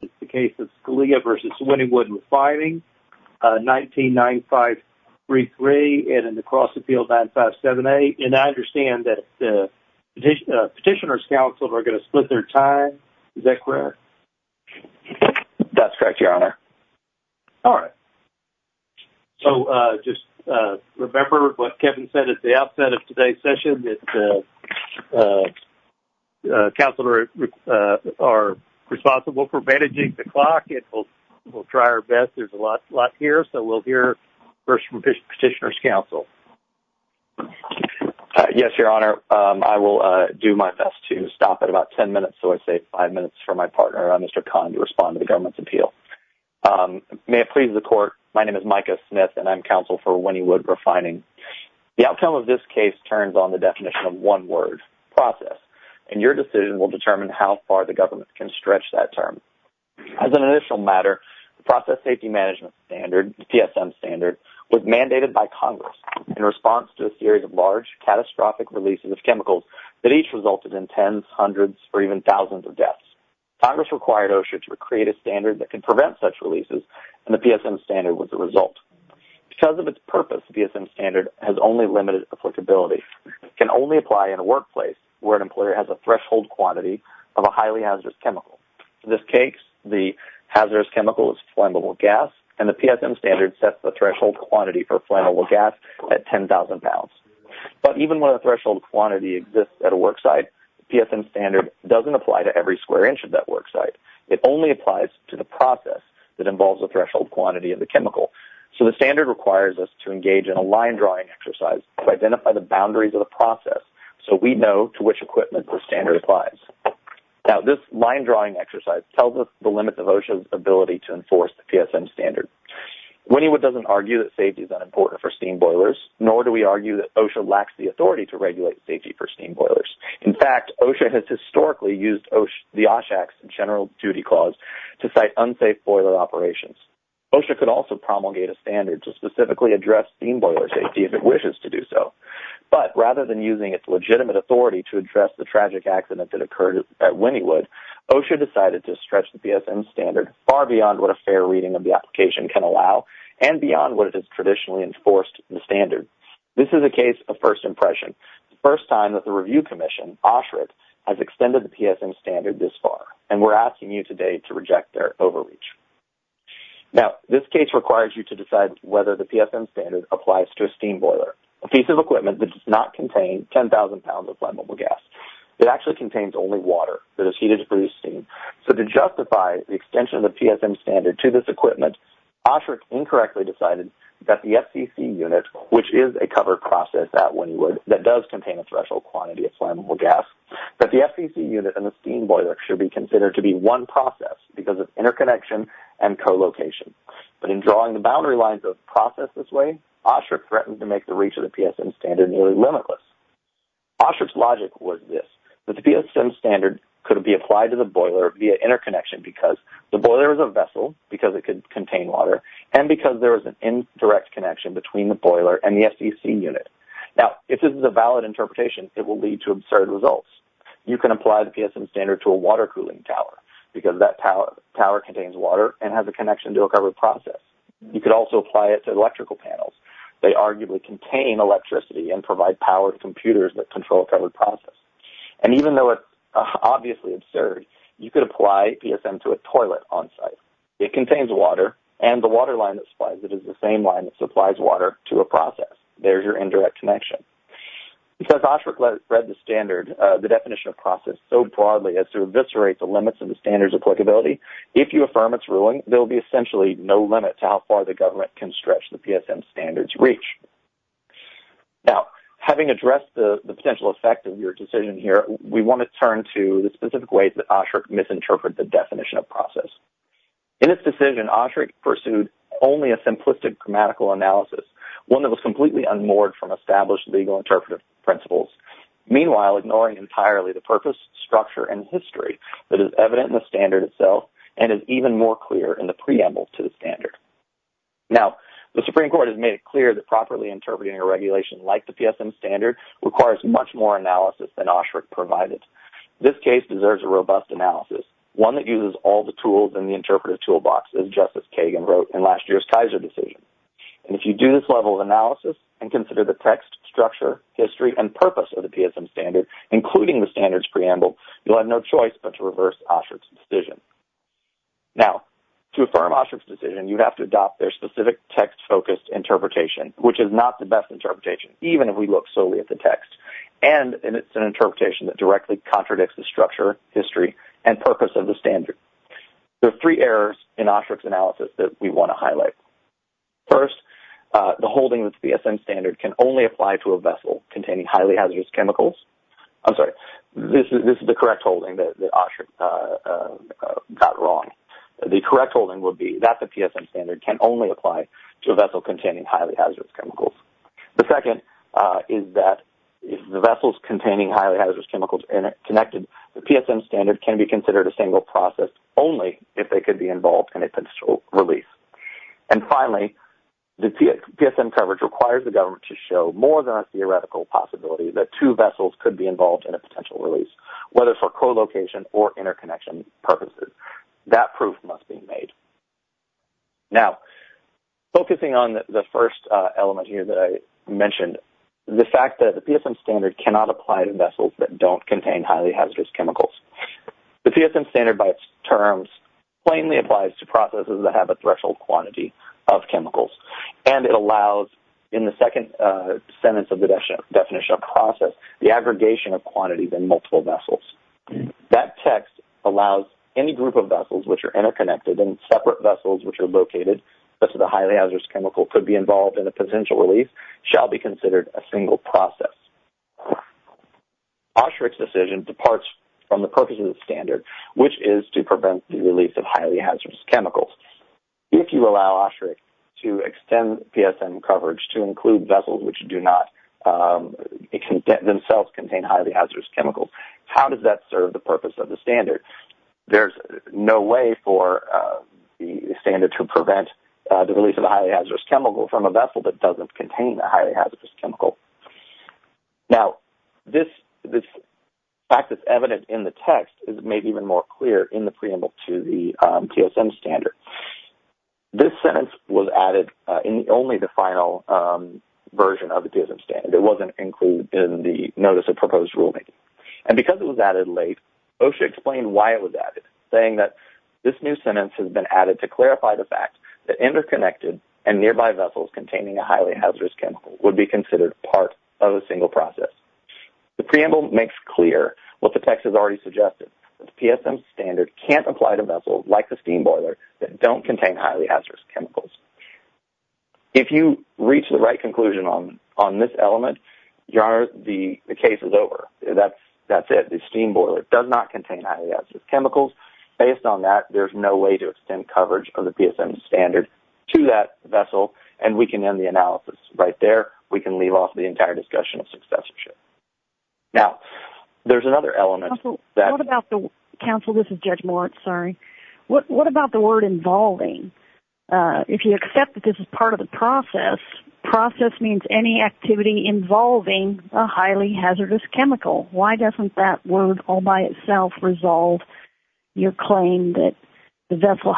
in the case of Scalia v. Wynnewood Refining, 1995-3-3, and in the Cross Appeal, 1995-7-8. And I understand that Petitioner's Counselors are going to split their time. Is that correct? That's correct, Your Honor. All right. So just remember what Kevin said at the outset of today's session, that Petitioner's Counselors are responsible for managing the clock. We'll try our best. There's a lot here, so we'll hear first from Petitioner's Counsel. Yes, Your Honor. I will do my best to stop at about 10 minutes, so I say five minutes for my partner, Mr. Kahn, to respond to the government's appeal. May it please the Court, my name is Micah Smith, and I'm counsel for Wynnewood Refining. The outcome of this case turns on the definition of one word, process, and your decision will determine how far the government can stretch that term. As an initial matter, the process safety management standard, the PSM standard, was mandated by Congress in response to a series of large, catastrophic releases of chemicals that each resulted in tens, hundreds, or even thousands of deaths. Congress required OSHA to create a standard that could prevent such releases, and the PSM standard was the result. Because of its purpose, the PSM standard has only limited applicability. It can only apply in a workplace where an employer has a threshold quantity of a highly hazardous chemical. In this case, the hazardous chemical is flammable gas, and the PSM standard sets the threshold quantity for flammable gas at 10,000 pounds. But even when a threshold quantity exists at a worksite, the PSM standard doesn't apply to every square inch of that worksite. It only applies to the process that involves the threshold quantity of the chemical. So the standard requires us to engage in a line-drawing exercise to identify the boundaries of the process, so we know to which equipment the standard applies. Now, this line-drawing exercise tells us the limits of OSHA's ability to enforce the PSM standard. Winniewood doesn't argue that safety is unimportant for steam boilers, nor do we argue that OSHA lacks the authority to regulate safety for steam boilers. In fact, OSHA has historically used the OSHAX General Duty Clause to cite unsafe boiler operations. OSHA could also promulgate a standard to specifically address steam boiler safety if OSHA wishes to do so. But rather than using its legitimate authority to address the tragic accident that occurred at Winniewood, OSHA decided to stretch the PSM standard far beyond what a fair reading of the application can allow, and beyond what it has traditionally enforced the standard. This is a case of first impression. It's the first time that the Review Commission, OSHRA, has extended the PSM standard this far, and we're asking you today to reject their overreach. Now, this case requires you to decide whether the PSM standard applies to a steam boiler, a piece of equipment that does not contain 10,000 pounds of flammable gas. It actually contains only water that is heated to produce steam. So, to justify the extension of the PSM standard to this equipment, OSHRA incorrectly decided that the FCC unit, which is a covered process at Winniewood that does contain a threshold quantity of flammable gas, that the FCC unit and the steam process because of interconnection and co-location. But in drawing the boundary lines of process this way, OSHRA threatened to make the reach of the PSM standard nearly limitless. OSHRA's logic was this, that the PSM standard could be applied to the boiler via interconnection because the boiler is a vessel, because it could contain water, and because there is an indirect connection between the boiler and the FCC unit. Now, if this is a valid interpretation, it will lead to absurd results. You can apply the PSM standard to a water cooling tower because that tower contains water and has a connection to a covered process. You could also apply it to electrical panels. They arguably contain electricity and provide power to computers that control a covered process. And even though it's obviously absurd, you could apply PSM to a toilet on site. It contains water, and the water line that supplies it is the same line that the PSM standard. Now, having addressed the potential effect of your decision here, we want to turn to the specific way that OSHRA misinterpreted the definition of process. In its decision, OSHRA pursued only a simplistic grammatical analysis, one that was completely unmoored from established legal interpretive principles, meanwhile, ignoring entirely the purpose, structure, and history that is evident in the standard itself and is even more clear in the preamble to the standard. Now, the Supreme Court has made it clear that properly interpreting a regulation like the PSM standard requires much more analysis than OSHRA provided. This case deserves a robust analysis, one that uses all the tools in the interpretive toolbox, as Justice Kagan wrote in last year's Kaiser decision. And if you do this level of analysis and consider the text, structure, history, and purpose of the PSM standard, including the standards preamble, you'll have no choice but to reverse OSHRA's decision. Now, to affirm OSHRA's decision, you have to adopt their specific text-focused interpretation, which is not the best interpretation, even if we look solely at the text, and it's an interpretation that directly contradicts the structure, history, and purpose of the standard. There are three errors in OSHRA's analysis that we want to highlight. First, the holding that the PSM standard can only apply to a vessel containing highly hazardous chemicals. I'm sorry. This is the correct holding that OSHRA got wrong. The correct holding would be that the PSM standard can only apply to a vessel containing highly hazardous chemicals. The second is that if the vessels containing highly hazardous chemicals are connected, the PSM standard can be considered a single process only if they could be involved in a potential release. Finally, the PSM coverage requires the government to show more than a theoretical possibility that two vessels could be involved in a potential release, whether for co-location or interconnection purposes. That proof must be made. Now, focusing on the first element here that I mentioned, the fact that the PSM standard cannot apply to vessels that don't contain highly hazardous chemicals. The PSM standard, by its definition, allows the aggregation of quantities in multiple vessels. That text allows any group of vessels which are interconnected and separate vessels which are located such that a highly hazardous chemical could be involved in a potential release shall be considered a single process. OSHRA's decision departs from the purpose of the standard, which is to prevent the release highly hazardous chemicals. If you allow OSHRA to extend PSM coverage to include vessels which do not themselves contain highly hazardous chemicals, how does that serve the purpose of the standard? There's no way for the standard to prevent the release of a highly hazardous chemical from a vessel that doesn't contain a highly hazardous chemical. Now, this fact that's evident in the PSM standard, this sentence was added in only the final version of the PSM standard. It wasn't included in the Notice of Proposed Rulemaking. And because it was added late, OSHRA explained why it was added, saying that this new sentence has been added to clarify the fact that interconnected and nearby vessels containing a highly hazardous chemical would be considered part of a single process. The preamble makes clear what the text has already suggested. The PSM standard can't apply to vessels like the steamboiler that don't contain highly hazardous chemicals. If you reach the right conclusion on this element, the case is over. That's it. The steamboiler does not contain highly hazardous chemicals. Based on that, there's no way to extend coverage of the PSM standard to that vessel, and we can end the analysis right there. We can leave off the entire discussion of successorship. Now, there's another element. What about the word involving? If you accept that this is part of the process, process means any activity involving a highly hazardous chemical. Why doesn't that word all by itself resolve your claim that the vessel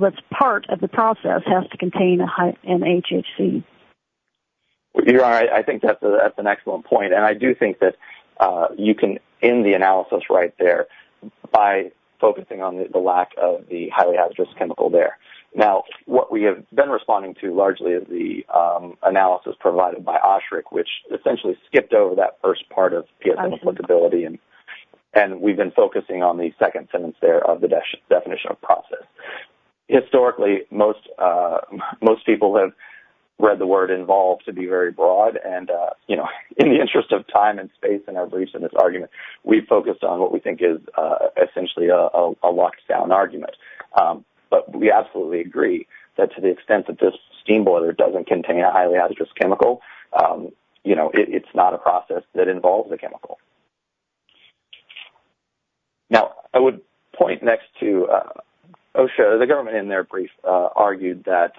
that's part of the process has to contain an HHC? Well, you're right. I think that's an excellent point, and I do think that you can end the analysis right there by focusing on the lack of the highly hazardous chemical there. Now, what we have been responding to largely is the analysis provided by OSHRC, which essentially skipped over that first part of PSM applicability, and we've been focusing on the second sentence of the definition of process. Historically, most people have read the word involved to be very broad, and in the interest of time and space in our briefs and this argument, we've focused on what we think is essentially a locked down argument, but we absolutely agree that to the extent that this steamboiler doesn't contain a highly hazardous chemical, it's not a process that involves a chemical. Now, I would point next to OSHA. The government in their brief argued that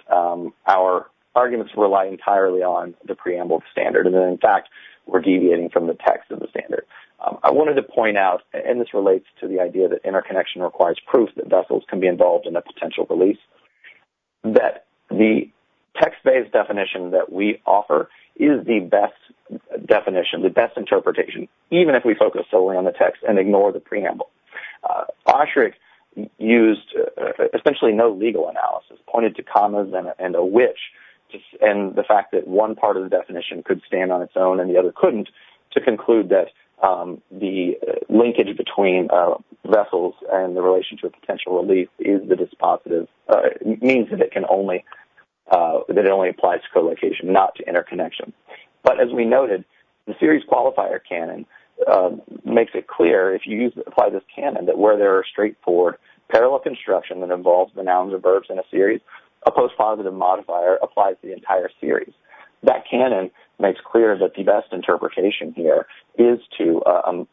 our arguments rely entirely on the preamble standard, and in fact, we're deviating from the text of the standard. I wanted to point out, and this relates to the idea that interconnection requires proof that vessels can be involved in a potential release, that the text-based definition that we offer is the best definition, the best interpretation, even if we focus solely on the text and ignore the preamble. OSHRC used essentially no legal analysis, pointed to commas and a which, and the fact that one part of the definition could stand on its own and the other couldn't, to conclude that the linkage between vessels and the relation to a potential release means that it only applies to co-location, not to interconnection. But as we noted, the series qualifier canon makes it clear, if you apply this canon, that where there are straightforward parallel construction that involves the nouns or verbs in a series, a post-positive modifier applies to the entire series. That canon makes clear that the best interpretation here is to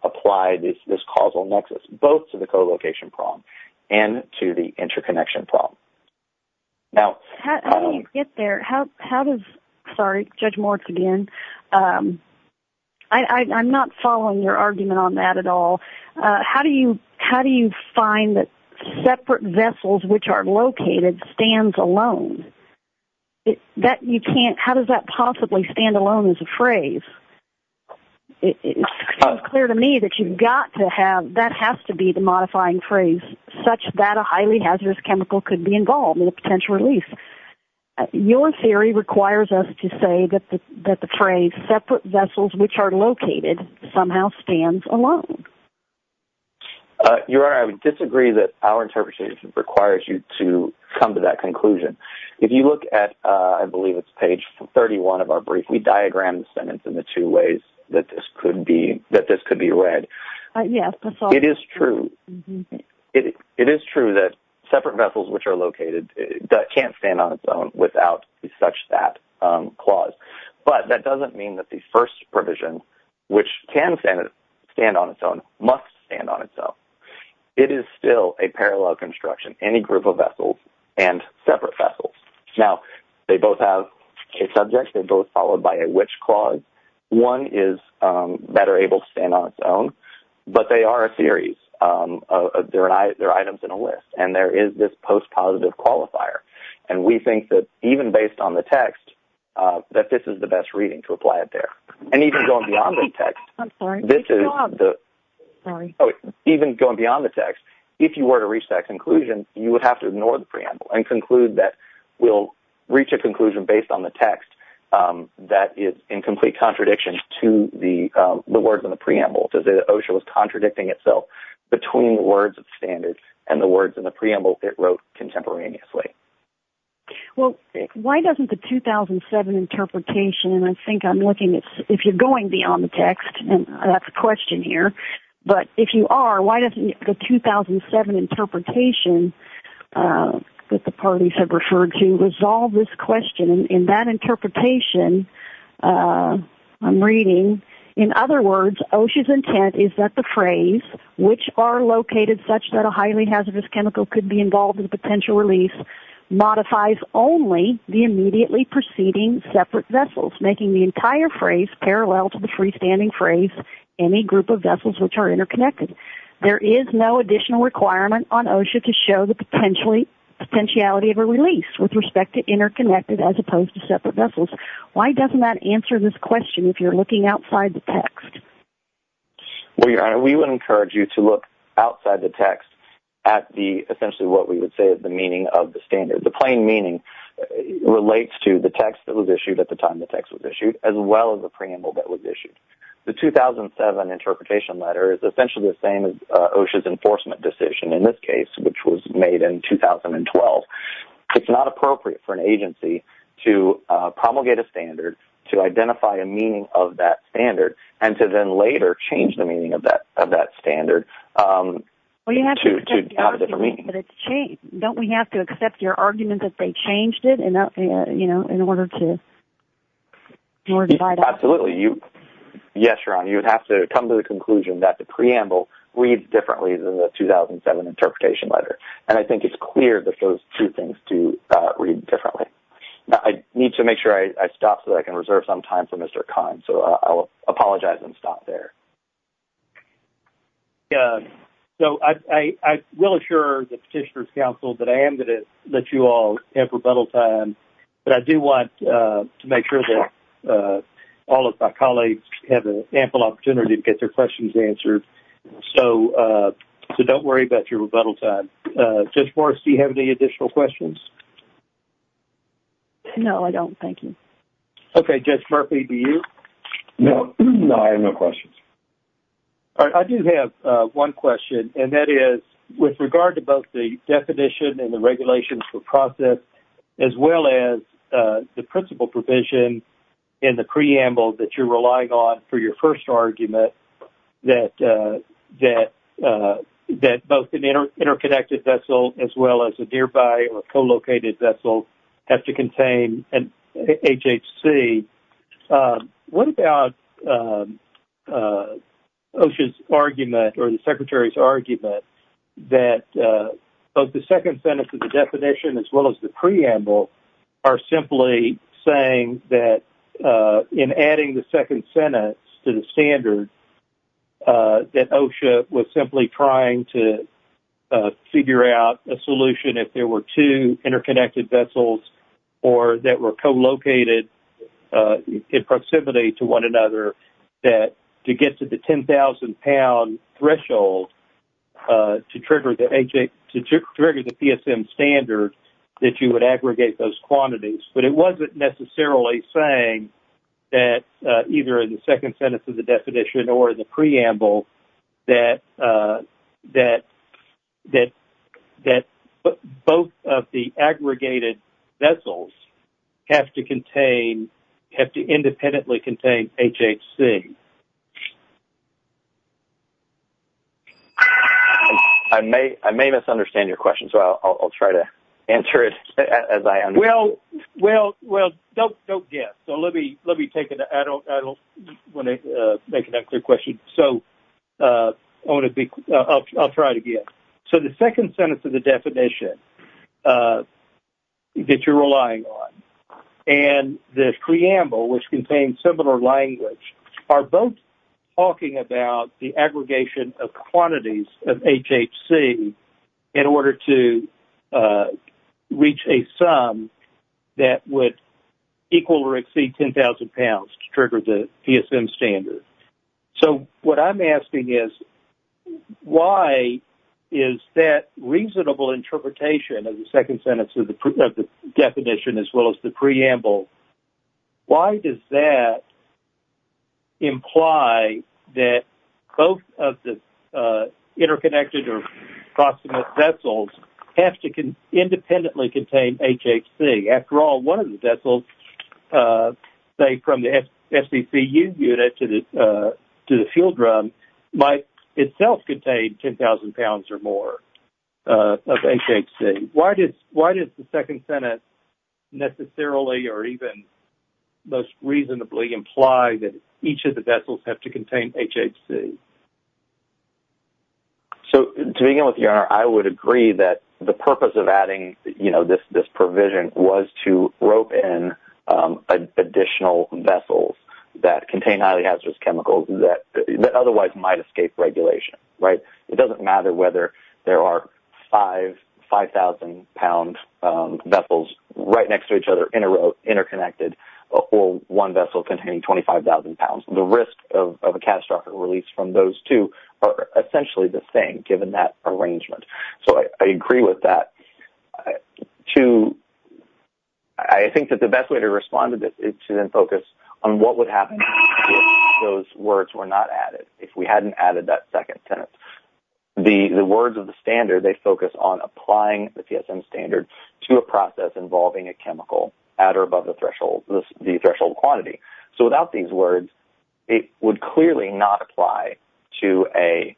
apply this causal nexus, both to the co-location problem and to the interconnection problem. Now... How do you get there? How does... Sorry, Judge Moritz again. I'm not following your argument on that at all. How do you find that separate vessels, which are located, stands alone? That you can't... How does that possibly stand alone as a phrase? It's clear to me that you've got to have... That has to be the modifying phrase, such that a highly hazardous chemical could be involved in a potential release. Your theory requires us to say that the phrase separate vessels, which are located, somehow stands alone. Your Honor, I would disagree that our interpretation requires you to come to that diagram sentence in the two ways that this could be read. It is true that separate vessels, which are located, can't stand on its own without such that clause. But that doesn't mean that the first provision, which can stand on its own, must stand on its own. It is still a parallel construction, any group of vessels and separate vessels. Now, they both have a subject. They both are followed by a which clause. One is better able to stand on its own, but they are a series. They're items in a list. And there is this post-positive qualifier. And we think that, even based on the text, that this is the best reading to apply it there. And even going beyond the text... I'm sorry. This is the... Sorry. Even going beyond the text, if you were to reach that conclusion, you would have to ignore the preamble and conclude that we'll reach a conclusion based on the text that is in complete contradiction to the words in the preamble. To say that OSHA was contradicting itself between the words of standards and the words in the preamble it wrote contemporaneously. Well, why doesn't the 2007 interpretation, and I think I'm looking at if you're going beyond the text, and that's a question here, but if you are, why doesn't the that interpretation I'm reading... In other words, OSHA's intent is that the phrase, which are located such that a highly hazardous chemical could be involved in the potential release, modifies only the immediately preceding separate vessels, making the entire phrase parallel to the freestanding phrase, any group of vessels which are interconnected. There is no additional requirement on OSHA to show the potentiality of a release with respect to connected as opposed to separate vessels. Why doesn't that answer this question if you're looking outside the text? Well, Your Honor, we would encourage you to look outside the text at the essentially what we would say is the meaning of the standard. The plain meaning relates to the text that was issued at the time the text was issued as well as the preamble that was issued. The 2007 interpretation letter is essentially the same as OSHA's enforcement decision in this case, which was made in 2012. It's not appropriate for an agency to promulgate a standard, to identify a meaning of that standard, and to then later change the meaning of that standard to have a different meaning. Well, you have to accept the argument that it's changed. Don't we have to accept your argument that they changed it in order to divide up? Absolutely. Yes, Your Honor, you would have to come to the conclusion that the preamble reads differently than the 2007 interpretation letter. And I think it's clear that those two things do read differently. I need to make sure I stop so that I can reserve some time for Mr. Kahn. So, I'll apologize and stop there. Yeah. So, I will assure the Petitioner's Council that I am going to let you all have rebuttal time. But I do want to make sure that all of my colleagues have an ample opportunity to get their questions answered. So, don't worry about your rebuttal time. Judge Morris, do you have any additional questions? No, I don't. Thank you. Okay. Judge Murphy, do you? No. I have no questions. All right. I do have one question, and that is, with regard to both the definition and the regulations for process, as well as the principal provision in the preamble that you're relying on for your first argument, that both an interconnected vessel, as well as a nearby or co-located vessel, have to contain an HHC, what about OSHA's argument or the Secretary's argument that both the second sentence of the definition, as well as the preamble, are simply saying that, in adding the second sentence to the standard, that OSHA was simply trying to figure out a solution if there were two interconnected vessels or that were co-located in proximity to one another, that to get to the 10,000-pound threshold to trigger the PSM standard, that you would aggregate those quantities. But it wasn't necessarily saying that, either in the second sentence of the definition or the preamble, that both of the aggregated vessels have to independently contain HHC. I may misunderstand your question, so I'll try to answer it as I understand it. Well, don't get it. I don't want to make it a clear question, so I'll try it again. So, the second sentence of the definition that you're relying on and the preamble, which contains similar language, are both talking about the aggregation of quantities of HHC in order to reach a sum that would equal or exceed 10,000 pounds to trigger the PSM standard. So, what I'm asking is, why is that reasonable interpretation of the second sentence of the definition, as well as the preamble, why does that imply that both of the interconnected or proximate vessels have to independently contain HHC? After all, one of the vessels, say, from the FCCU unit to the field run, might itself contain 10,000 pounds or more of HHC. Why does the second sentence necessarily or even most reasonably imply that each of the vessels have to contain HHC? So, to begin with, your honor, I would agree that the purpose of adding, you know, this provision was to rope in additional vessels that contain highly hazardous chemicals that otherwise might escape regulation, right? It doesn't matter whether there are 5,000-pound vessels right next to each other interconnected or one vessel containing 25,000 pounds. The risk of a catastrophic release from those two are essentially the same, given that arrangement. So, I agree with that. I think that the best way to respond to this is to then focus on what would happen if those words were not added, if we hadn't added that second sentence. The words of the standard, they focus on applying the PSM standard to a process involving a chemical at or above the threshold quantity. So, without these words, it would clearly not apply to a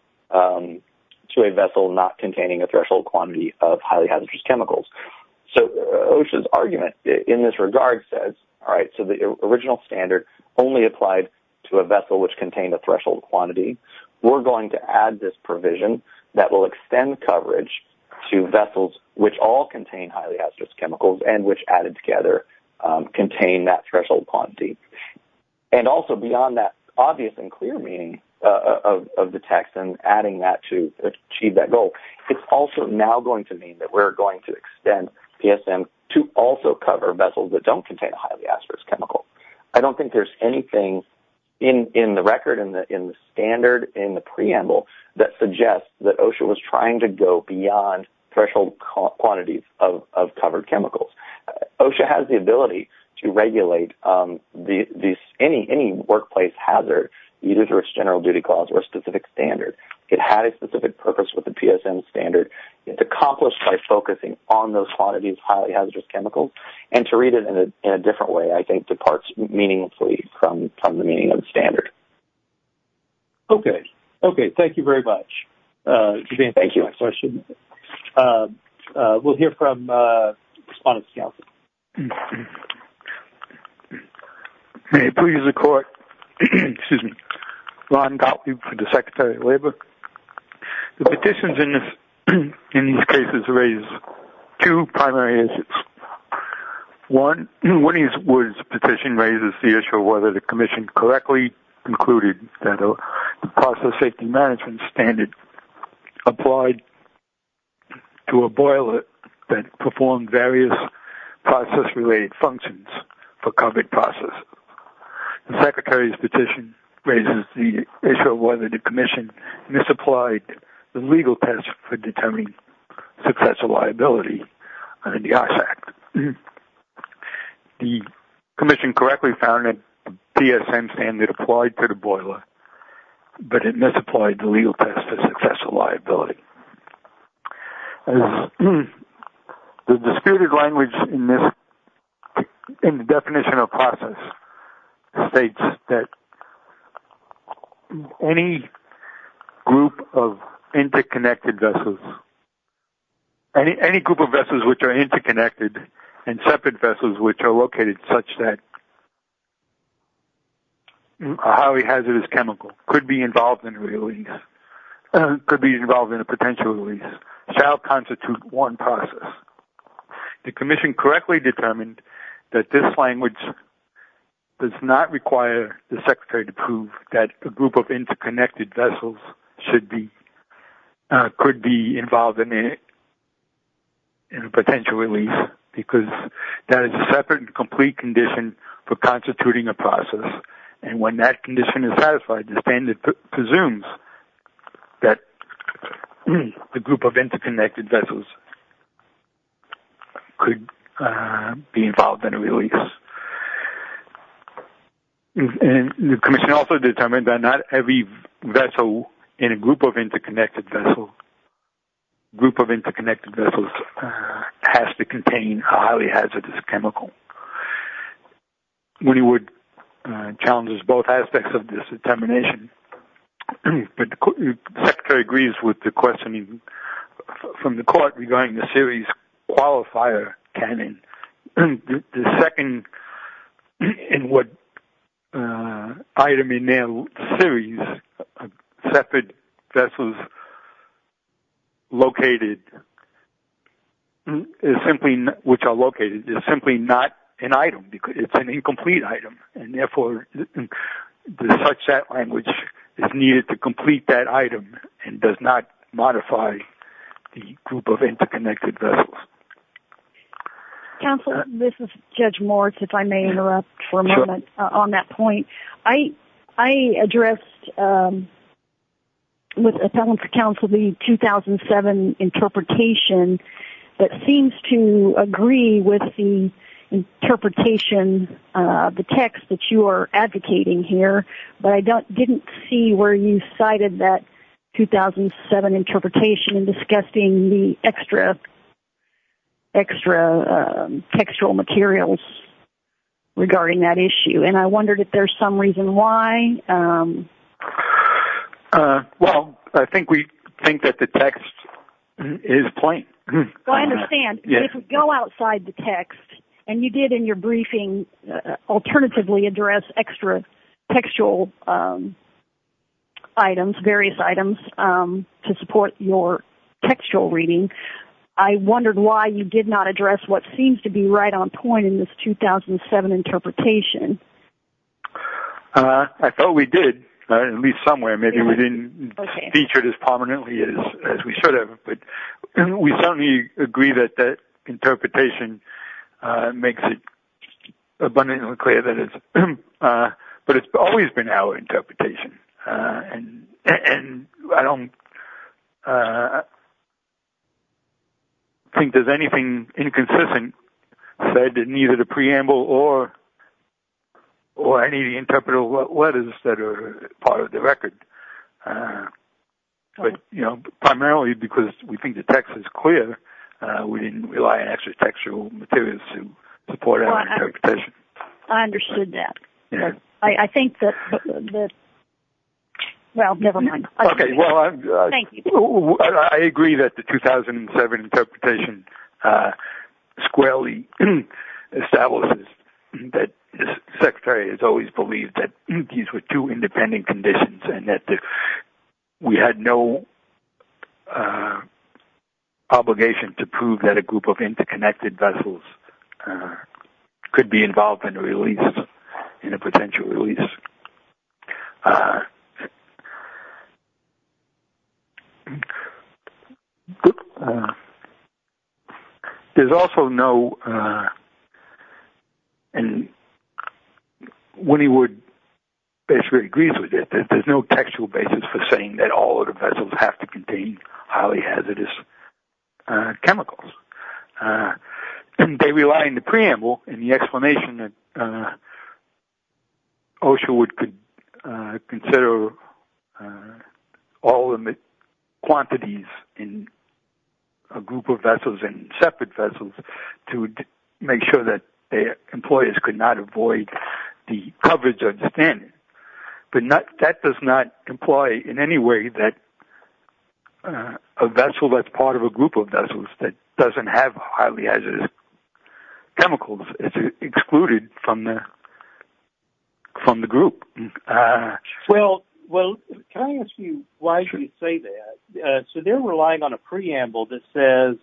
vessel not containing a threshold quantity of highly hazardous chemicals. So, OSHA's argument in this regard says, all right, so the original standard only applied to a vessel which contained a threshold quantity. We're going to add this provision that will extend coverage to vessels which all contain highly hazardous chemicals and which added together contain that threshold quantity. And also, beyond that obvious and clear meaning of the text and adding that to achieve that goal, it's also now going to mean that we're going to extend PSM to also cover vessels that don't contain a highly hazardous chemical. I don't think there's anything in the record, in the standard, in the preamble that suggests that OSHA was trying to go beyond threshold quantities of covered chemicals. OSHA has the ability to regulate any workplace hazard, either through its general duty clause or specific standard. It had a specific purpose with the PSM standard. It's accomplished by focusing on those quantities of highly hazardous chemicals. And to read it in a different way, I think, departs from the meaning of the standard. Okay. Okay. Thank you very much. Thank you. We'll hear from Respondents Council. May it please the Court. Ron Gottlieb for the Secretary of Labor. The petitions in these cases raise two primary issues. One is Wood's petition raises the issue of whether the Commission correctly concluded that the process safety management standard applied to a boiler that performed various process-related functions for covered process. The Secretary's petition raises the issue of whether the Commission misapplied the legal test for determining successful liability under the OSHA Act. The Commission correctly found that the PSM standard applied to the boiler, but it misapplied the legal test for successful liability. As the disputed language in the definition of process states that any group of interconnected vessels, any group of vessels which are interconnected and separate vessels which are located such that a highly hazardous chemical could be involved in potential release shall constitute one process. The Commission correctly determined that this language does not require the Secretary to prove that a group of interconnected vessels should be, could be involved in a potential release because that is a separate and complete condition for constituting a process. And when that condition is satisfied, the standard presumes that the group of interconnected vessels could be involved in a release. And the Commission also determined that not every vessel in a group of interconnected vessels, group of interconnected vessels has to contain a highly hazardous chemical. Woody Wood challenges both aspects of this determination. But the Secretary agrees with the questioning from the Court regarding the series qualifier canon. The second in what item in their series of separate vessels located is simply not, which are located is simply not an item because it's an incomplete item. And therefore the such that language is needed to complete that item and does not modify the group of interconnected vessels. Counsel, this is Judge Moritz, if I may interrupt for a moment on that point. I addressed with Appellant for Counsel the 2007 interpretation that seems to agree with the interpretation of the text that you are advocating here, but I didn't see where you cited that 2007 interpretation in discussing the extra textual materials regarding that issue. And I wondered if there's some reason why. Well, I think we think that the text is plain. I understand. If we go outside the text, and you did in your briefing alternatively address extra textual items, various items to support your textual reading, I wondered why you did not address what seems to be right on point in this 2007 interpretation. I thought we did, at least somewhere. Maybe we didn't feature it as prominently as we should have. But we certainly agree that that interpretation makes it abundantly clear that it's, but it's always been our interpretation. And I don't think there's anything inconsistent said in either the preamble or any interpretive letters that are part of the record. But, you know, primarily because we think the text is clear, we didn't rely on extra textual materials to support our interpretation. I understood that. I think that, well, never mind. I agree that the 2007 interpretation squarely establishes that the Secretary has always believed that these were two independent conditions and that we had no obligation to prove that a vessel was involved in a potential release. There's also no, and Woody Wood basically agrees with it, there's no textual basis for saying that all of the vessels have to contain highly hazardous chemicals. And they rely on the preamble and the explanation that OSHA would consider all quantities in a group of vessels and separate vessels to make sure that their employers could not avoid the coverage of the standard. But that does not imply in any way that a vessel that's part of a group of vessels that doesn't have highly hazardous chemicals is excluded from the group. Well, can I ask you why you say that? So they're relying on a preamble that says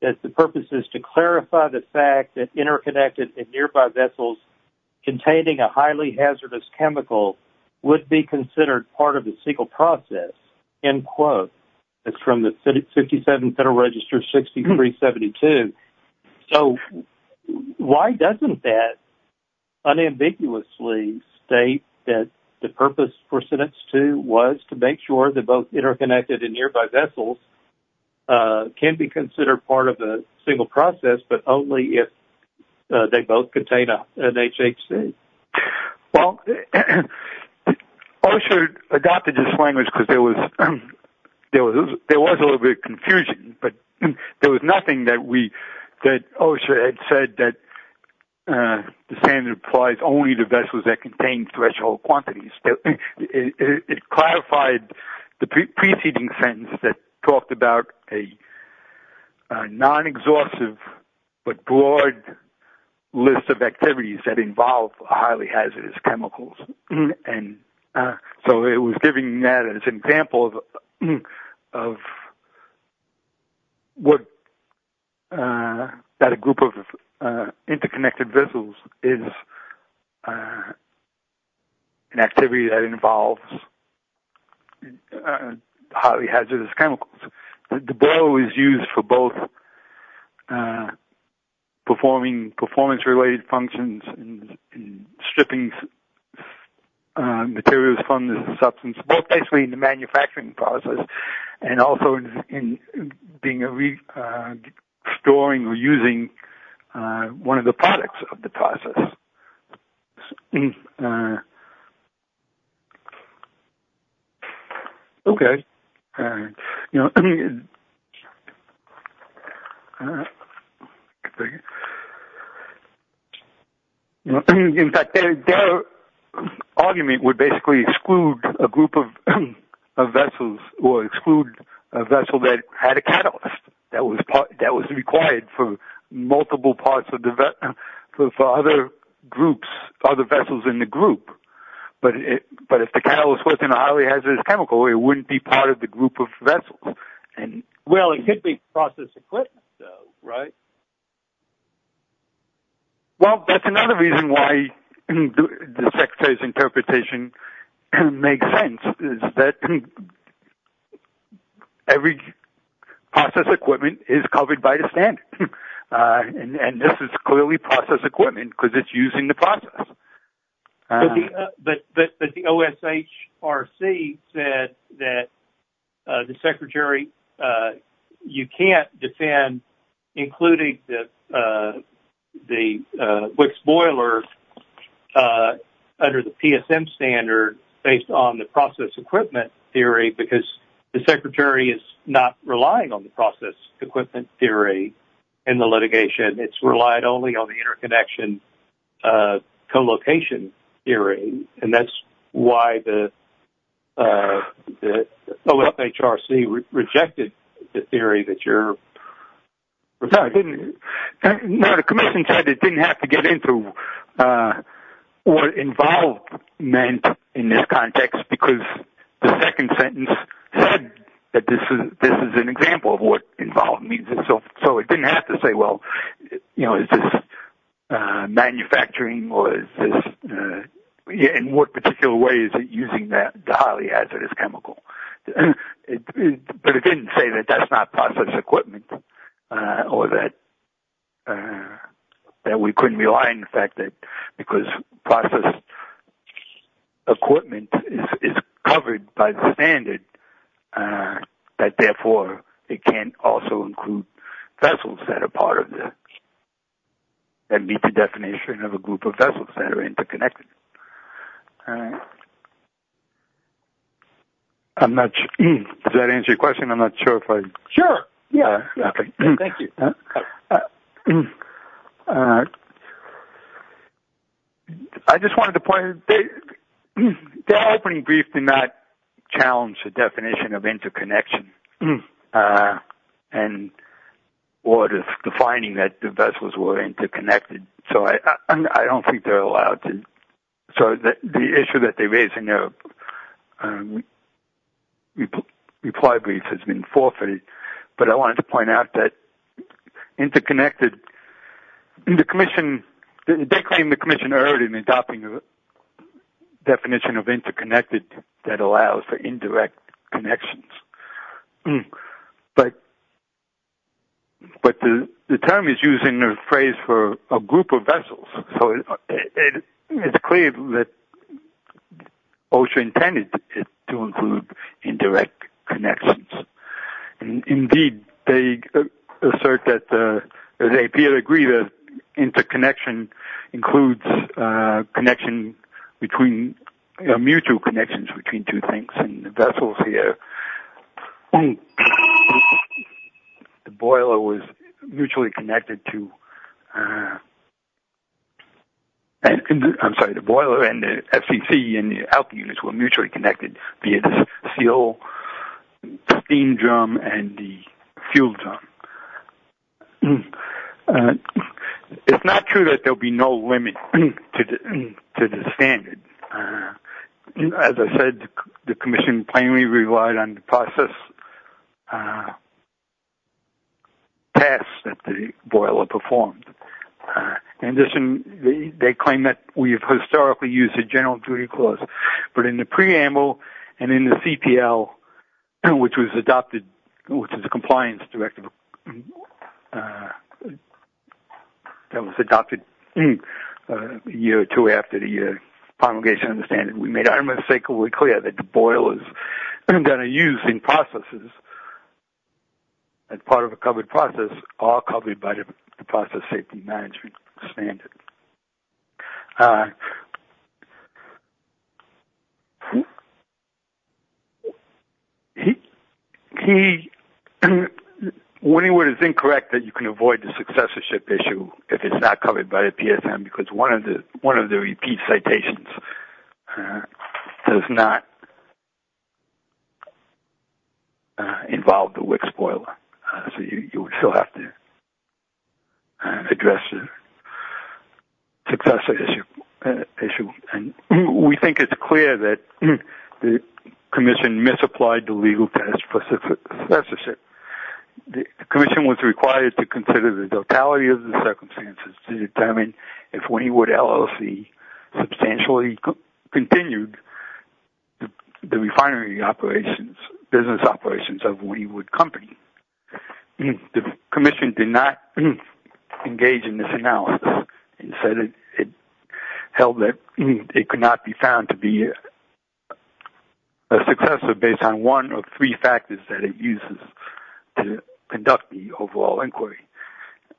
that the purpose is to clarify the fact that interconnected and nearby vessels containing a highly hazardous chemical would be considered part of the CEQA process, end quote. It's from the 57 Federal Register 6372. So why doesn't that unambiguously state that the purpose for sentence two was to make sure that both interconnected and nearby vessels can be considered part of a single process, but only if they both contain an HHC? Well, OSHA adopted this language because there was a little bit of confusion, but there was nothing that OSHA had said that the standard applies only to vessels that contain threshold quantities. It clarified the preceding sentence that talked about a non-exhaustive but broad list of activities that involve highly hazardous chemicals. And so it was giving that as an example of what that a group of interconnected vessels is an activity that involves highly hazardous chemicals. The blow is used for both performing performance-related functions and stripping materials from the substance, both basically in the manufacturing process and also in storing or using one of the products of the process. Okay. In fact, their argument would basically exclude a group of vessels or exclude a vessel that had a catalyst that was required for multiple parts of the vessel for other groups, other vessels in the group. But if the catalyst was in a highly hazardous chemical, it wouldn't be part of the group of vessels. Well, it could be process equipment though, right? Well, that's another reason why the Secretary's interpretation can make sense is that every process equipment is covered by the standard. And this is clearly process equipment because it's using the process. But the OSHRC said that the Secretary, you can't defend including the Wix boiler under the PSM standard based on the process equipment theory because the Secretary is not relying on the process equipment theory in the litigation. It's relied only on the interconnection co-location theory. And that's why the OSHRC rejected the theory that you're... No, the Commission said it didn't have to get into what involved meant in this context because the second sentence said that this is an example of what involved means. And so it didn't have to say, well, you know, is this manufacturing or is this, in what particular way is it using that highly hazardous chemical? But it didn't say that that's not process equipment or that we couldn't rely on the fact because process equipment is covered by the standard that therefore it can also include vessels that are part of the... That meet the definition of a group of vessels that are interconnected. I'm not sure... Does that answer your question? I'm not sure if I... Sure. Yeah. Okay. Thank you. I just wanted to point out that the opening brief did not challenge the definition of interconnection and or defining that the vessels were interconnected. So I don't think they're allowed to... So the issue that they raise in their reply brief has been forfeited, but I wanted to point out that interconnected... And the Commission, they claim the Commission erred in adopting the definition of interconnected that allows for indirect connections. But the term is used in a group of vessels. So it's clear that OSHA intended to include indirect connections. And indeed, they assert that... They appear to agree that interconnection includes connection between... Mutual connections between two things and the vessels here. And the boiler was mutually connected to... I'm sorry, the boiler and the FCC and the output units were mutually connected via the CO steam drum and the fuel drum. It's not true that there'll be no limit to the standard. As I said, the Commission plainly relied on the process pass that the boiler performed. In addition, they claim that we've historically used a general duty clause, but in the preamble and in the CPL, which was adopted, which is a compliance directive that was adopted a year or two after the promulgation of the boiler, that are used in processes as part of a covered process, all covered by the process safety management standard. Winningwood is incorrect that you can avoid the successorship issue if it's not covered by the WIC spoiler. So, you would still have to address the successorship issue. And we think it's clear that the Commission misapplied the legal test for successorship. The Commission was required to consider the totality of the circumstances to determine if Winningwood LLC substantially continued the refinery operations, business operations of Winningwood Company. The Commission did not engage in this analysis and said it held that it could not be found to be a successor based on one of three factors that it uses to conduct the overall inquiry.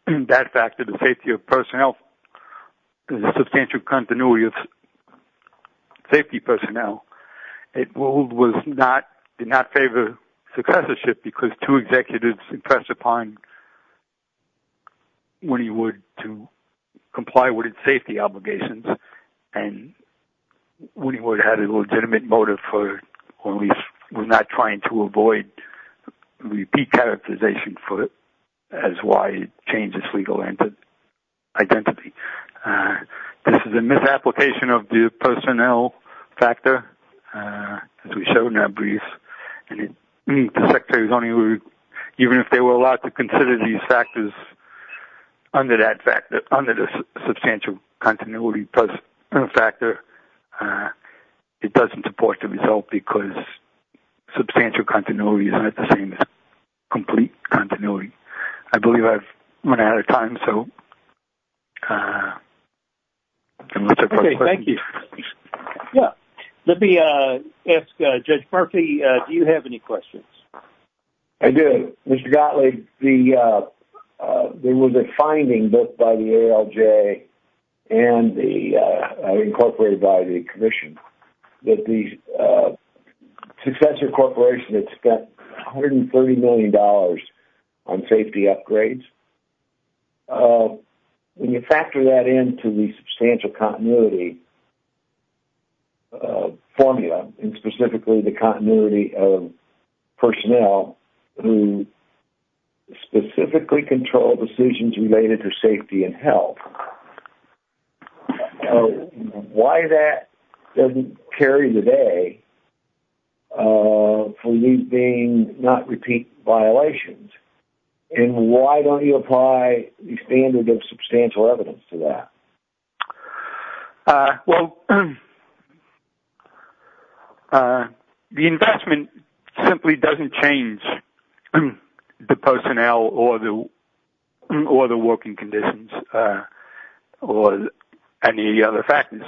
That factor, the safety of personnel, the substantial continuity of safety personnel, it ruled did not favor successorship because two executives impressed upon Winningwood to comply with its safety obligations. And Winningwood had a legitimate motive for, or at least was not trying to avoid repeat characterization for it as why it changed its legal identity. This is a misapplication of the personnel factor, as we showed in that brief. Even if they were allowed to consider these factors under the substantial continuity factor, it doesn't support the result because substantial continuity is not the same as complete continuity. I believe I've run out of time, so I'm going to take questions. Okay. Thank you. Yeah. Let me ask Judge Markey, do you have any questions? I do. Mr. Gottlieb, there was a finding both by the ALJ and incorporated by the Commission that the successor corporation had spent $130 million on safety upgrades. When you factor that into the substantial continuity formula, and specifically the continuity of personnel who specifically control decisions related to safety and health, why that doesn't carry the day for these being not repeat violations? And why don't you apply the standard of substantial evidence to that? Well, the investment simply doesn't change the personnel or the working conditions or any of the other factors.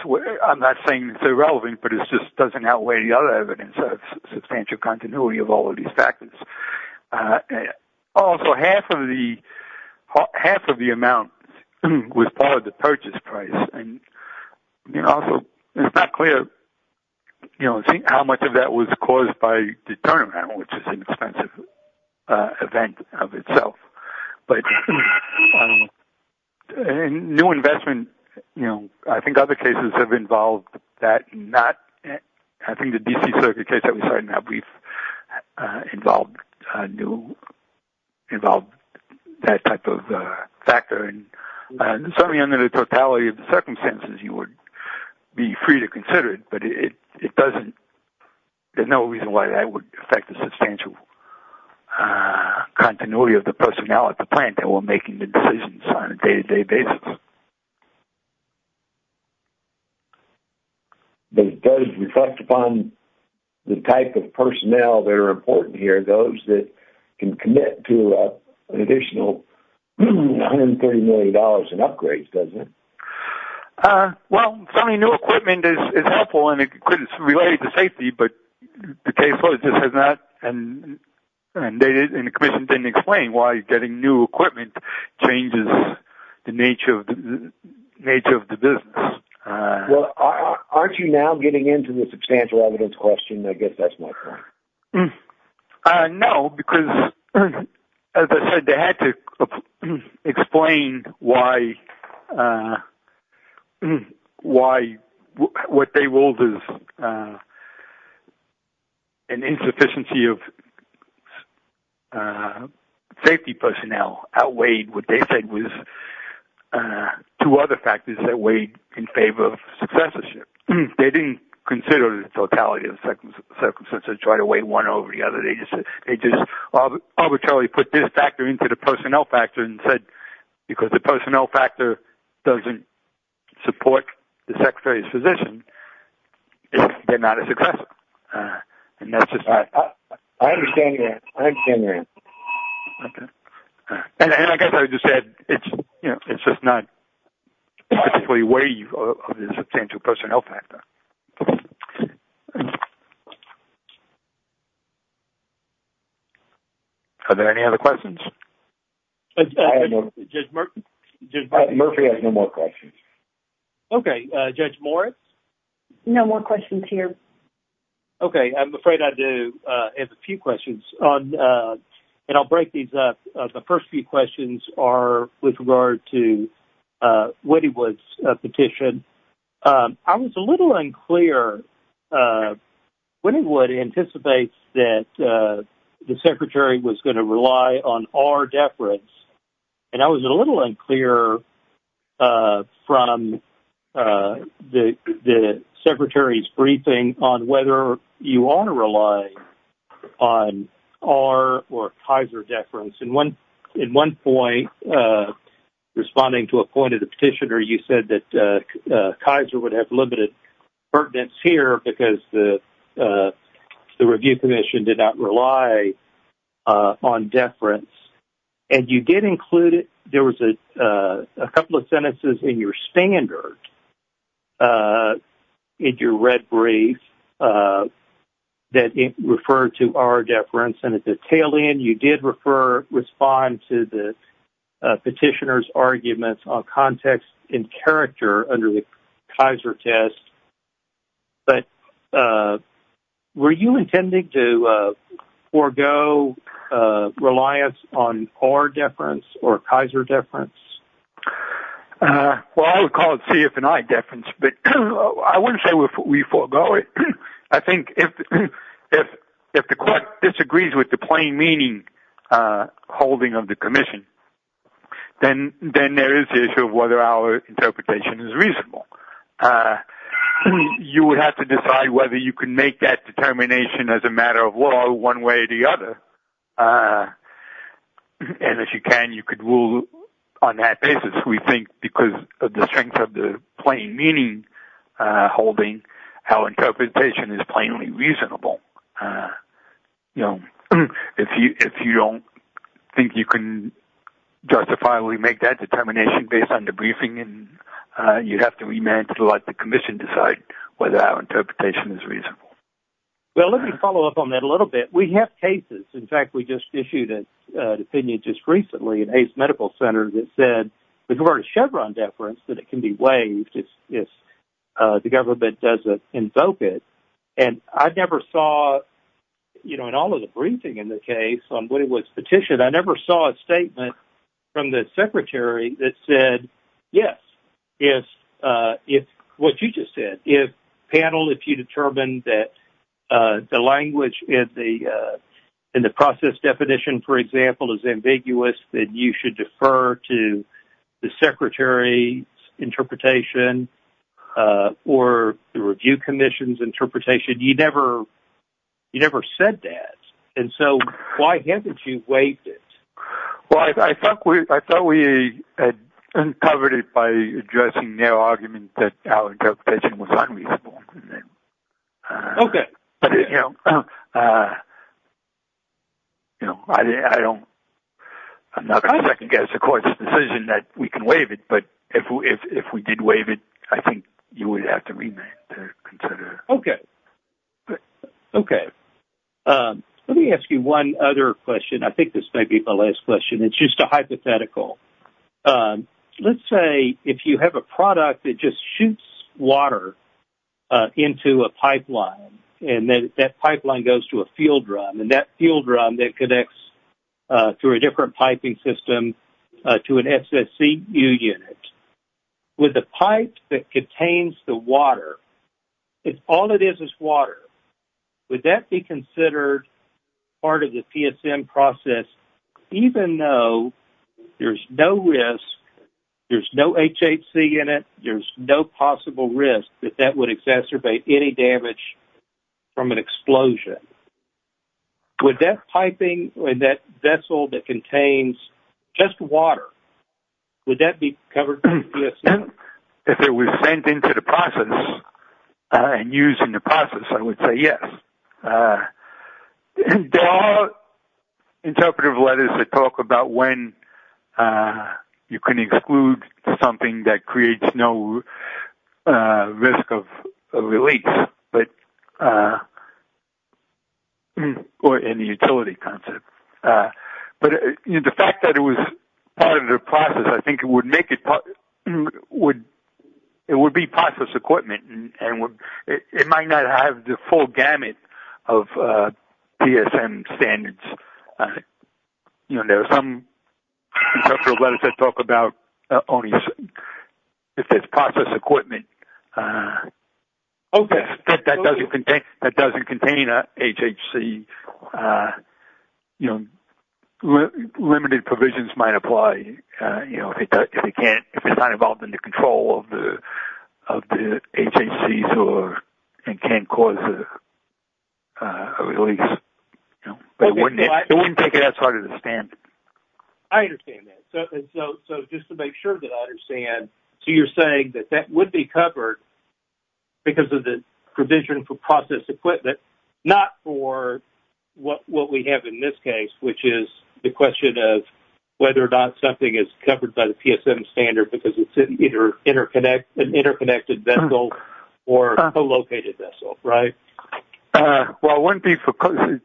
I'm not saying it's irrelevant, but it just doesn't outweigh the other evidence of substantial continuity of all of these factors. Also, half of the amount was part of the purchase price. It's not clear how much of that was caused by the turnaround, which is an expensive event of itself. But new investment, I think other cases have involved that. I think the D.C. Circuit case that we started now, we've involved that type of factor. Certainly under the totality of the circumstances, you would be free to consider it, but there's no reason why that would affect the substantial continuity of the personnel at the plant that were making the decisions on a day-to-day basis. But it does reflect upon the type of personnel that are important here, those that can commit to an additional $130 million in upgrades, doesn't it? Well, selling new equipment is helpful, and it's related to safety, but the case law just has not and the commission didn't explain why getting new equipment changes the nature of the business. Well, aren't you now getting into the substantial evidence question? I guess that's my point. No, because as I said, they had to explain why what they ruled as an insufficiency of safety personnel outweighed what they said was two other factors that weighed in favor of successorship. They didn't consider the totality of the circumstances, try to weigh one over the other. They just arbitrarily put this factor into the personnel factor and said, because the personnel factor doesn't support the secretary's position, they're not as successful. And that's just not... I understand that. I understand that. Okay. And I guess I would just add, it's just not the way you put it into a personnel factor. Are there any other questions? Judge Murphy has no more questions. Okay. Judge Moritz? No more questions here. Okay. I'm afraid I do have a few questions and I'll break these up. The first few questions are with regard to Wynnywood's petition. I was a little unclear. Wynnywood anticipates that the secretary was going to rely on our deference. And I was a little unclear from the secretary's briefing on whether you want to rely on our or Kaiser deference. In one point, responding to a point of the petitioner, you said that Kaiser would have limited pertinence here because the review commission did not rely on deference. And you included... There was a couple of sentences in your standard, in your red brief, that referred to our deference. And at the tail end, you did respond to the petitioner's arguments on context and character under the Kaiser test. But you intended to forego reliance on our deference or Kaiser deference? Well, I would call it CF and I deference. But I wouldn't say we forego it. I think if the court disagrees with the plain meaning holding of the commission, then there is the issue of whether our interpretation is reasonable. And you would have to decide whether you can make that determination as a matter of law, one way or the other. And if you can, you could rule on that basis. We think because of the strength of the plain meaning holding, our interpretation is plainly reasonable. If you don't think you can justifiably make that determination based on the briefing, you'd have to remand to let the commission decide whether our interpretation is reasonable. Well, let me follow up on that a little bit. We have cases. In fact, we just issued an opinion just recently at Ace Medical Center that said, because we're a Chevron deference, that it can be waived if the government doesn't invoke it. And I never saw, you know, in all of the briefing in the case on what it was petitioned, I never saw a statement from the secretary that said, yes, if what you just said, if panel, if you determine that the language in the process definition, for example, is ambiguous, that you should defer to the secretary's interpretation or the review commission's interpretation. You never said that. And so why haven't you waived it? Well, I thought we had covered it by addressing their argument that our interpretation was unreasonable. Okay. You know, I don't, I'm not going to second guess the court's decision that we can waive it. But if we did waive it, I think you would have to remand to consider. Okay. Okay. Let me ask you one other question. I think this might be my last question. It's just a hypothetical. Let's say if you have a product that just shoots water into a pipeline, and then that pipeline goes to a field run, and that field run that connects to a different piping system to an SSC unit. With the pipe that contains the water, if all it is is water, would that be considered part of the PSM process, even though there's no risk, there's no HHC in it, there's no possible risk that that would exacerbate any damage from an explosion? Would that piping, that vessel that contains just water, would that be covered by the PSM? If it was sent into the process and used in the process, I would say yes. There are interpretive letters that talk about when you can exclude something that creates no risk of release, or in the utility concept. But the fact that it was part of the process, I think it would make it, it would be process equipment, and it might not have the full gamut of PSM standards. I think there are some interpretive letters that talk about only if it's process equipment that doesn't contain a HHC. Limited provisions might apply if it's not involved in the control of the HHCs and can cause a release. But it wouldn't take it as hard to understand. I understand that. So just to make sure that I understand, so you're saying that that would be covered because of the provision for process equipment, not for what we have in this case, which is the question of whether or not something is covered by the PSM standard because it's either an interconnected vessel or a co-located vessel, right? Well, it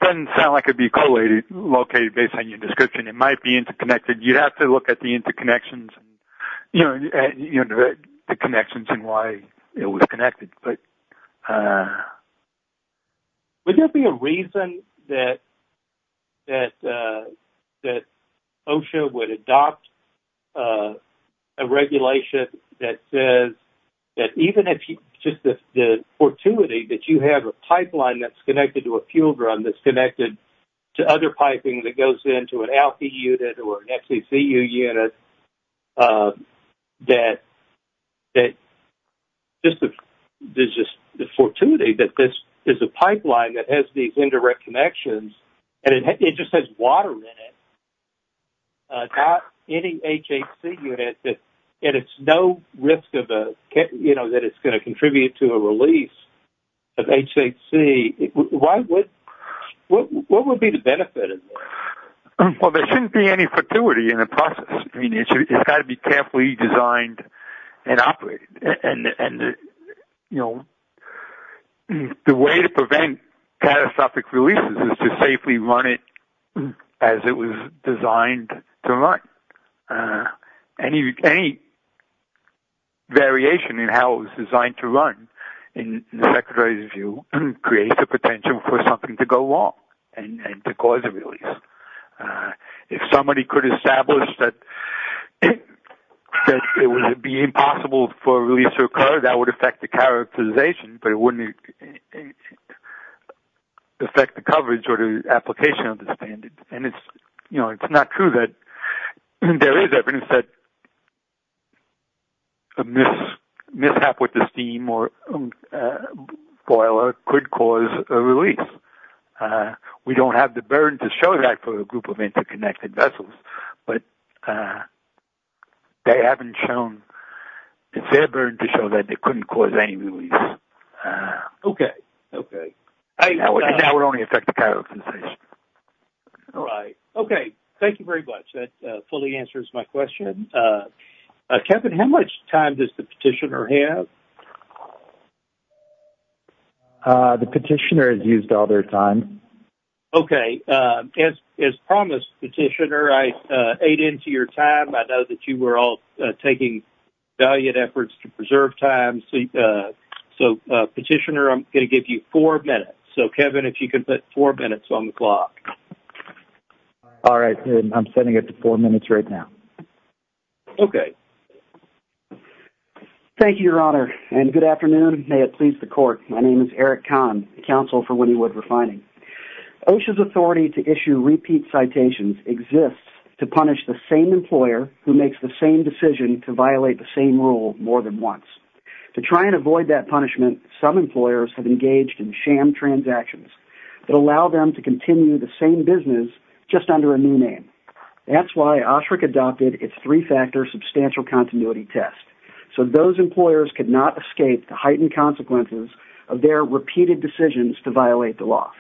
doesn't sound like it'd be co-located based on your description. It might be interconnected. You'd have to look at the interconnections and why it was connected. But would there be a reason that OSHA would adopt a regulation that says that even if, just the fortuity that you have a pipeline that's connected to a fuel drum that's connected to other piping that goes into an ALPE unit or an FCCU unit, that just the fortuity that this is a pipeline that has these indirect connections and it just has water in it, not any HHC unit, and it's no risk that it's going to contribute to a release of HHC, what would be the benefit of this? Well, there shouldn't be any fortuity in the process. I mean, it's got to be carefully designed and operated. And the way to prevent catastrophic releases is to safely run it as it was designed to run. Any variation in how it was designed to run, in the Secretary's view, creates the potential for something to go wrong and to cause a release. If somebody could establish that it would be impossible for a release to occur, that would affect the characterization, but it wouldn't affect the coverage or the application of the standard. And it's not true that there is evidence that a mishap with the steam or boiler could cause a release. We don't have the burden to show that for a group of interconnected vessels, but they haven't shown, it's their burden to show that it couldn't cause any release. Okay. Okay. That would only affect the characterization. All right. Okay. Thank you very much. That fully answers my question. Kevin, how much time does the petitioner have? The petitioner has used all their time. Okay. As promised, petitioner, I ate into your time. I know that you were all taking valiant efforts to preserve time. So, petitioner, I'm going to give you four minutes. So, Kevin, if you could put four minutes on the clock. All right. I'm sending it to four minutes right now. Okay. Thank you, Your Honor, and good afternoon. May it please the Court. My name is Eric Kahn, Counsel for Wynnewood Refining. OSHA's authority to issue repeat citations exists to punish the same employer who makes the same decision to violate the same rule more than once. To try and avoid that punishment, some employers have engaged in sham transactions that allow them to continue the same business just under a new name. That's why OSHRC adopted its three-factor substantial continuity test, so those employers could not escape the heightened consequences of their repeated decisions to violate the law.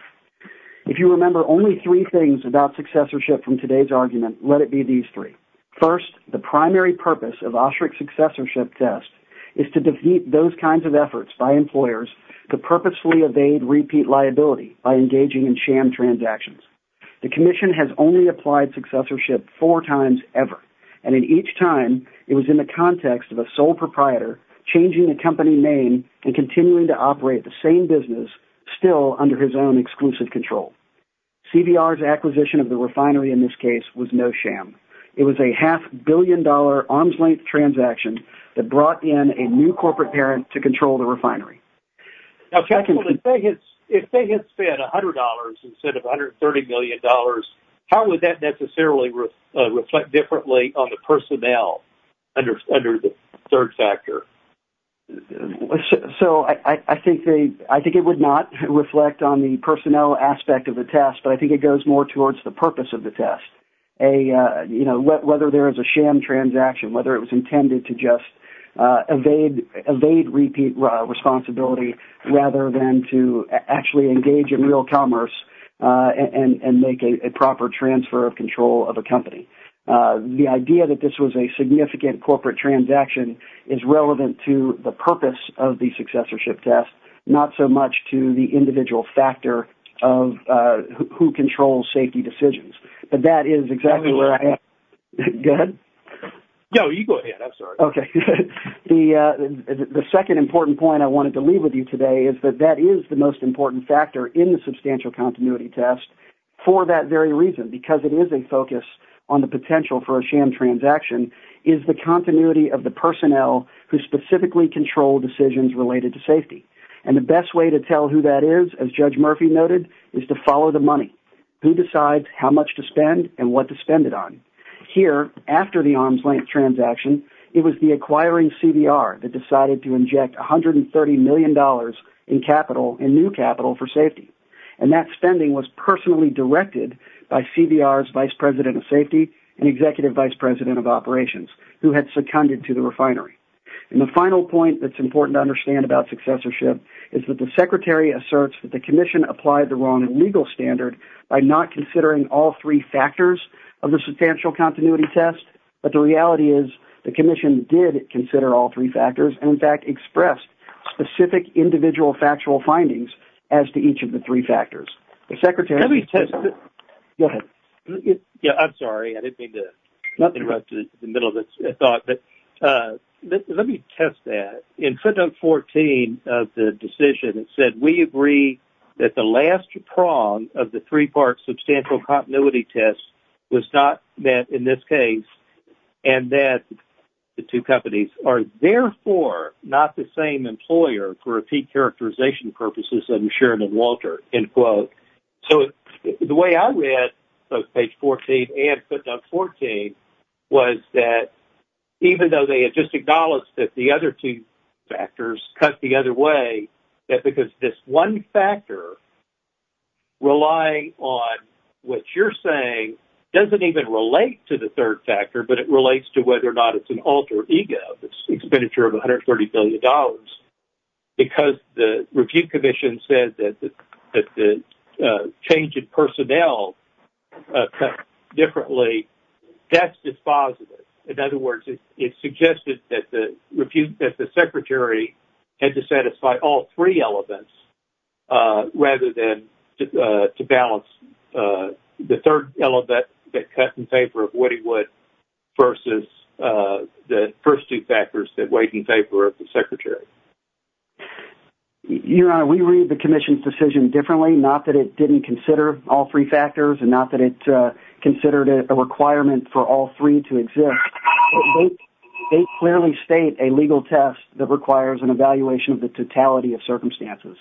If you remember only three things about successorship from today's argument, let it be these three. First, the primary purpose of OSHRC successorship tests is to defeat those kinds of efforts by employers to purposefully evade repeat liability by engaging in sham transactions. The Commission has only applied successorship four times ever, and in each time, it was in the context of a sole proprietor changing the company name and continuing to operate the same business still under his own exclusive control. CVR's acquisition of the refinery in this case was no sham. It was a half-billion-dollar arm's-length transaction that brought in a new corporate parent to control the refinery. If they had spent $100 instead of $130 million, how would that necessarily reflect differently on the personnel under the third factor? I think it would not reflect on the personnel aspect of the test, but I think it goes more towards the purpose of the test, whether there is a sham transaction, whether it was intended to just evade repeat responsibility rather than to actually engage in real commerce and make a proper transfer of control of a company. The idea that this was a significant corporate transaction is relevant to the purpose of the who controls safety decisions. The second important point I wanted to leave with you today is that that is the most important factor in the substantial continuity test for that very reason, because it is a focus on the potential for a sham transaction is the continuity of the personnel who specifically control decisions related to safety. The best way to tell who that is, as Judge Murphy noted, is to follow the money. Who decides how much to spend and what to spend it on? Here, after the arm's-length transaction, it was the acquiring CVR that decided to inject $130 million in capital and new capital for safety. That spending was personally directed by CVR's vice president of safety and executive vice president of operations, who had seconded to the refinery. The final point that is important to understand about is that the commission applied the wrong legal standard by not considering all three factors of the substantial continuity test, but the reality is the commission did consider all three factors and, in fact, expressed specific individual factual findings as to each of the three factors. I'm sorry. I didn't mean to interrupt in the middle of the thought, but let me test that. In footnote 14 of the decision, it said, we agree that the last prong of the three-part substantial continuity test was not met in this case and that the two companies are therefore not the same employer for repeat characterization purposes, I'm sure, and Walter, end quote. The way I read both page 14 and footnote 14 was that even though they had just acknowledged that the other two factors cut the other way, that because this one factor relying on what you're saying doesn't even relate to the third factor, but it relates to whether or not it's an alter ego, this expenditure of $130 billion, because the review commission said that the change in personnel cut differently, that's dispositive. In other words, it suggested that the secretary had to satisfy all three elements rather than to balance the third element that cut in favor of what he would versus the first two factors that weighed in favor of the secretary. Your Honor, we read the commission's decision differently, not that it didn't consider all three factors and not that it considered a requirement for all three to exist. They clearly state a legal test that requires an evaluation of the totality of circumstances.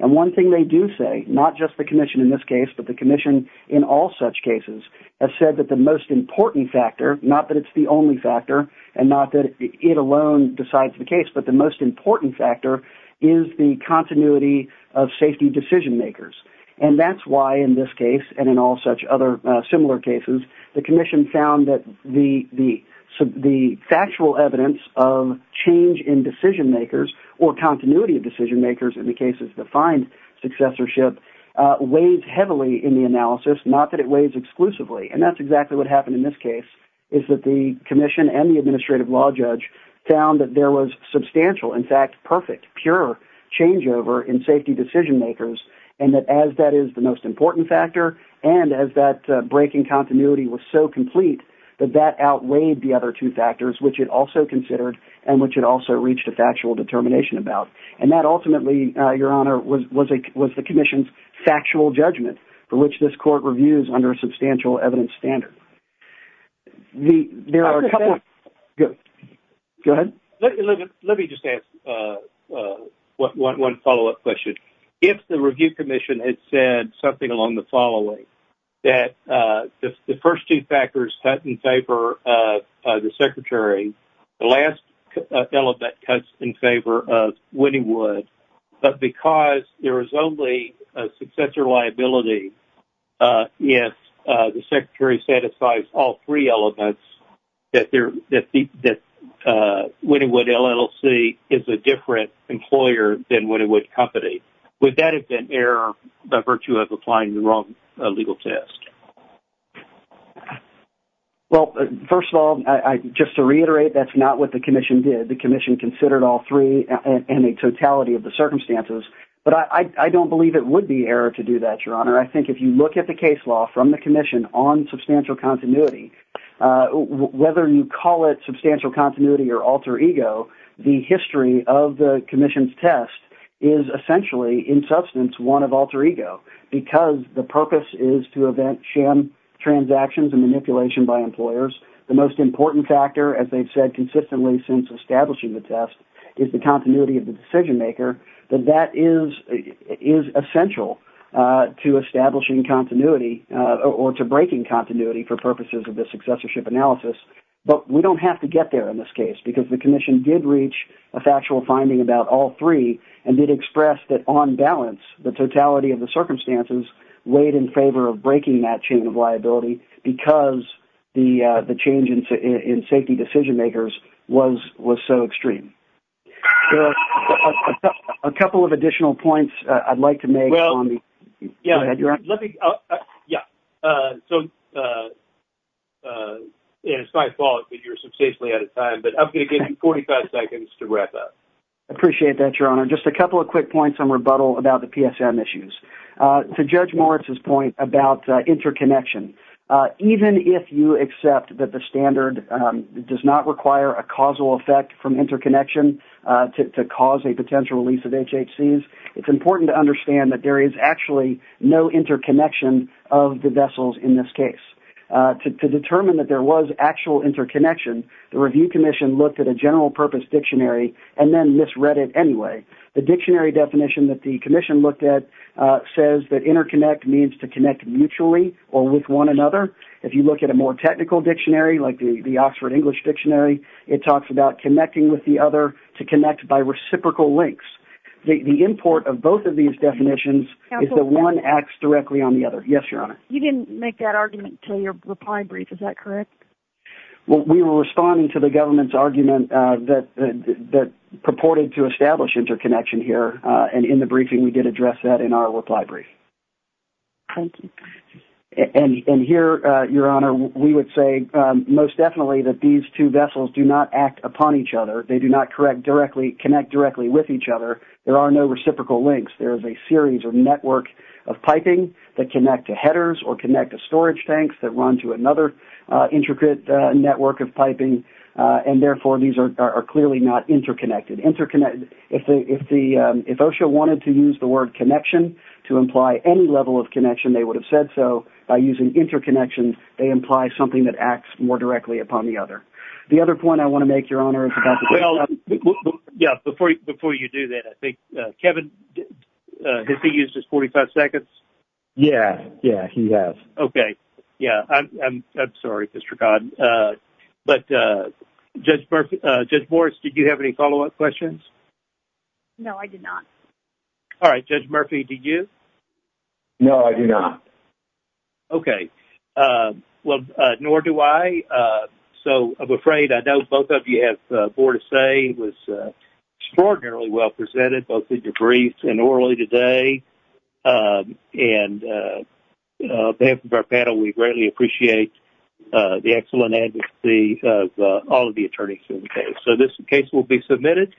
And one thing they do say, not just the commission in this case, but the commission in all such cases, has said that the most important factor, not that it's the only factor and not that it alone decides the case, but the most important factor is the continuity of safety decision makers. And that's why in this case and in all such other similar cases, the commission found that the factual evidence of change in decision makers or continuity of decision makers in the cases defined successorship weighs heavily in the analysis, not that it weighs exclusively. And that's exactly what happened in this case, is that the commission and the safety decision makers, and that as that is the most important factor, and as that breaking continuity was so complete, that that outweighed the other two factors, which it also considered and which it also reached a factual determination about. And that ultimately, Your Honor, was the commission's factual judgment for which this court reviews under a substantial evidence standard. There are a couple of... Go ahead. Let me just ask one follow-up question. If the review commission had said something along the following, that the first two factors cut in favor of the secretary, the last element cuts in favor of Wynniwood, but because there is only a successor liability if the secretary satisfies all three elements, that Wynniwood LLC is a different employer than Wynniwood Company, would that have been error by virtue of applying the wrong legal test? Well, first of all, just to reiterate, that's not what the commission did. The commission considered all three and a totality of the circumstances, but I don't believe it would be error to do that, Your Honor. I think if you look at the case law from the commission on substantial continuity, whether you call it substantial continuity or alter ego, the history of the commission's test is essentially, in substance, one of alter ego, because the purpose is to event sham transactions and manipulation by employers. The most important factor, as they've said consistently since establishing the test, is the continuity of the decision maker, that that is essential to establishing continuity or to breaking continuity for purposes of the successorship analysis, but we don't have to get there in this case, because the commission did reach a factual finding about all three and did express that on balance, the totality of the circumstances weighed in favor of breaking that chain of liability, because the change in safety decision makers was so extreme. A couple of additional points I'd like to make on the... Well, yeah, let me... Yeah. So, it's my fault that you're substantially out of time, but I'm going to give you 45 seconds to wrap up. Appreciate that, Your Honor. Just a couple of quick points on rebuttal about the PSM issues. To Judge Moritz's point about interconnection, even if you accept that the standard does not require a causal effect from interconnection to cause a potential release of HHCs, it's important to understand that there is actually no interconnection of the vessels in this case. To determine that there was actual interconnection, the review commission looked at a general purpose dictionary and then misread it anyway. The dictionary definition that the commission looked at says that interconnect means to connect mutually or with one another. If you look at a more technical dictionary, like the Oxford English Dictionary, it talks about connecting with the other to connect by reciprocal links. The import of both of these definitions is that one acts directly on the other. Yes, Your Honor. You didn't make that argument to your reply brief. Is that correct? Well, we were responding to the government's argument that purported to establish interconnection and in the briefing we did address that in our reply brief. Thank you. And here, Your Honor, we would say most definitely that these two vessels do not act upon each other. They do not connect directly with each other. There are no reciprocal links. There is a series or network of piping that connect to headers or connect to storage tanks that run to another intricate network of piping and therefore these are clearly not interconnected. If OSHA wanted to use the word connection to imply any level of connection, they would have said so. By using interconnection, they imply something that acts more directly upon the other. The other point I want to make, Your Honor. Well, yeah, before you do that, I think, Kevin, has he used his 45 seconds? Yeah, yeah, he has. Okay, yeah. I'm sorry, Mr. Codd. But Judge Morris, did you have any follow-up questions? No, I did not. All right. Judge Murphy, did you? No, I did not. Okay. Well, nor do I. So, I'm afraid I know both of you have more to say. It was extraordinarily well presented, both in debrief and orally today. And on behalf of our panel, we greatly appreciate the excellent advocacy of all of the attorneys in the case. So, this case will be submitted.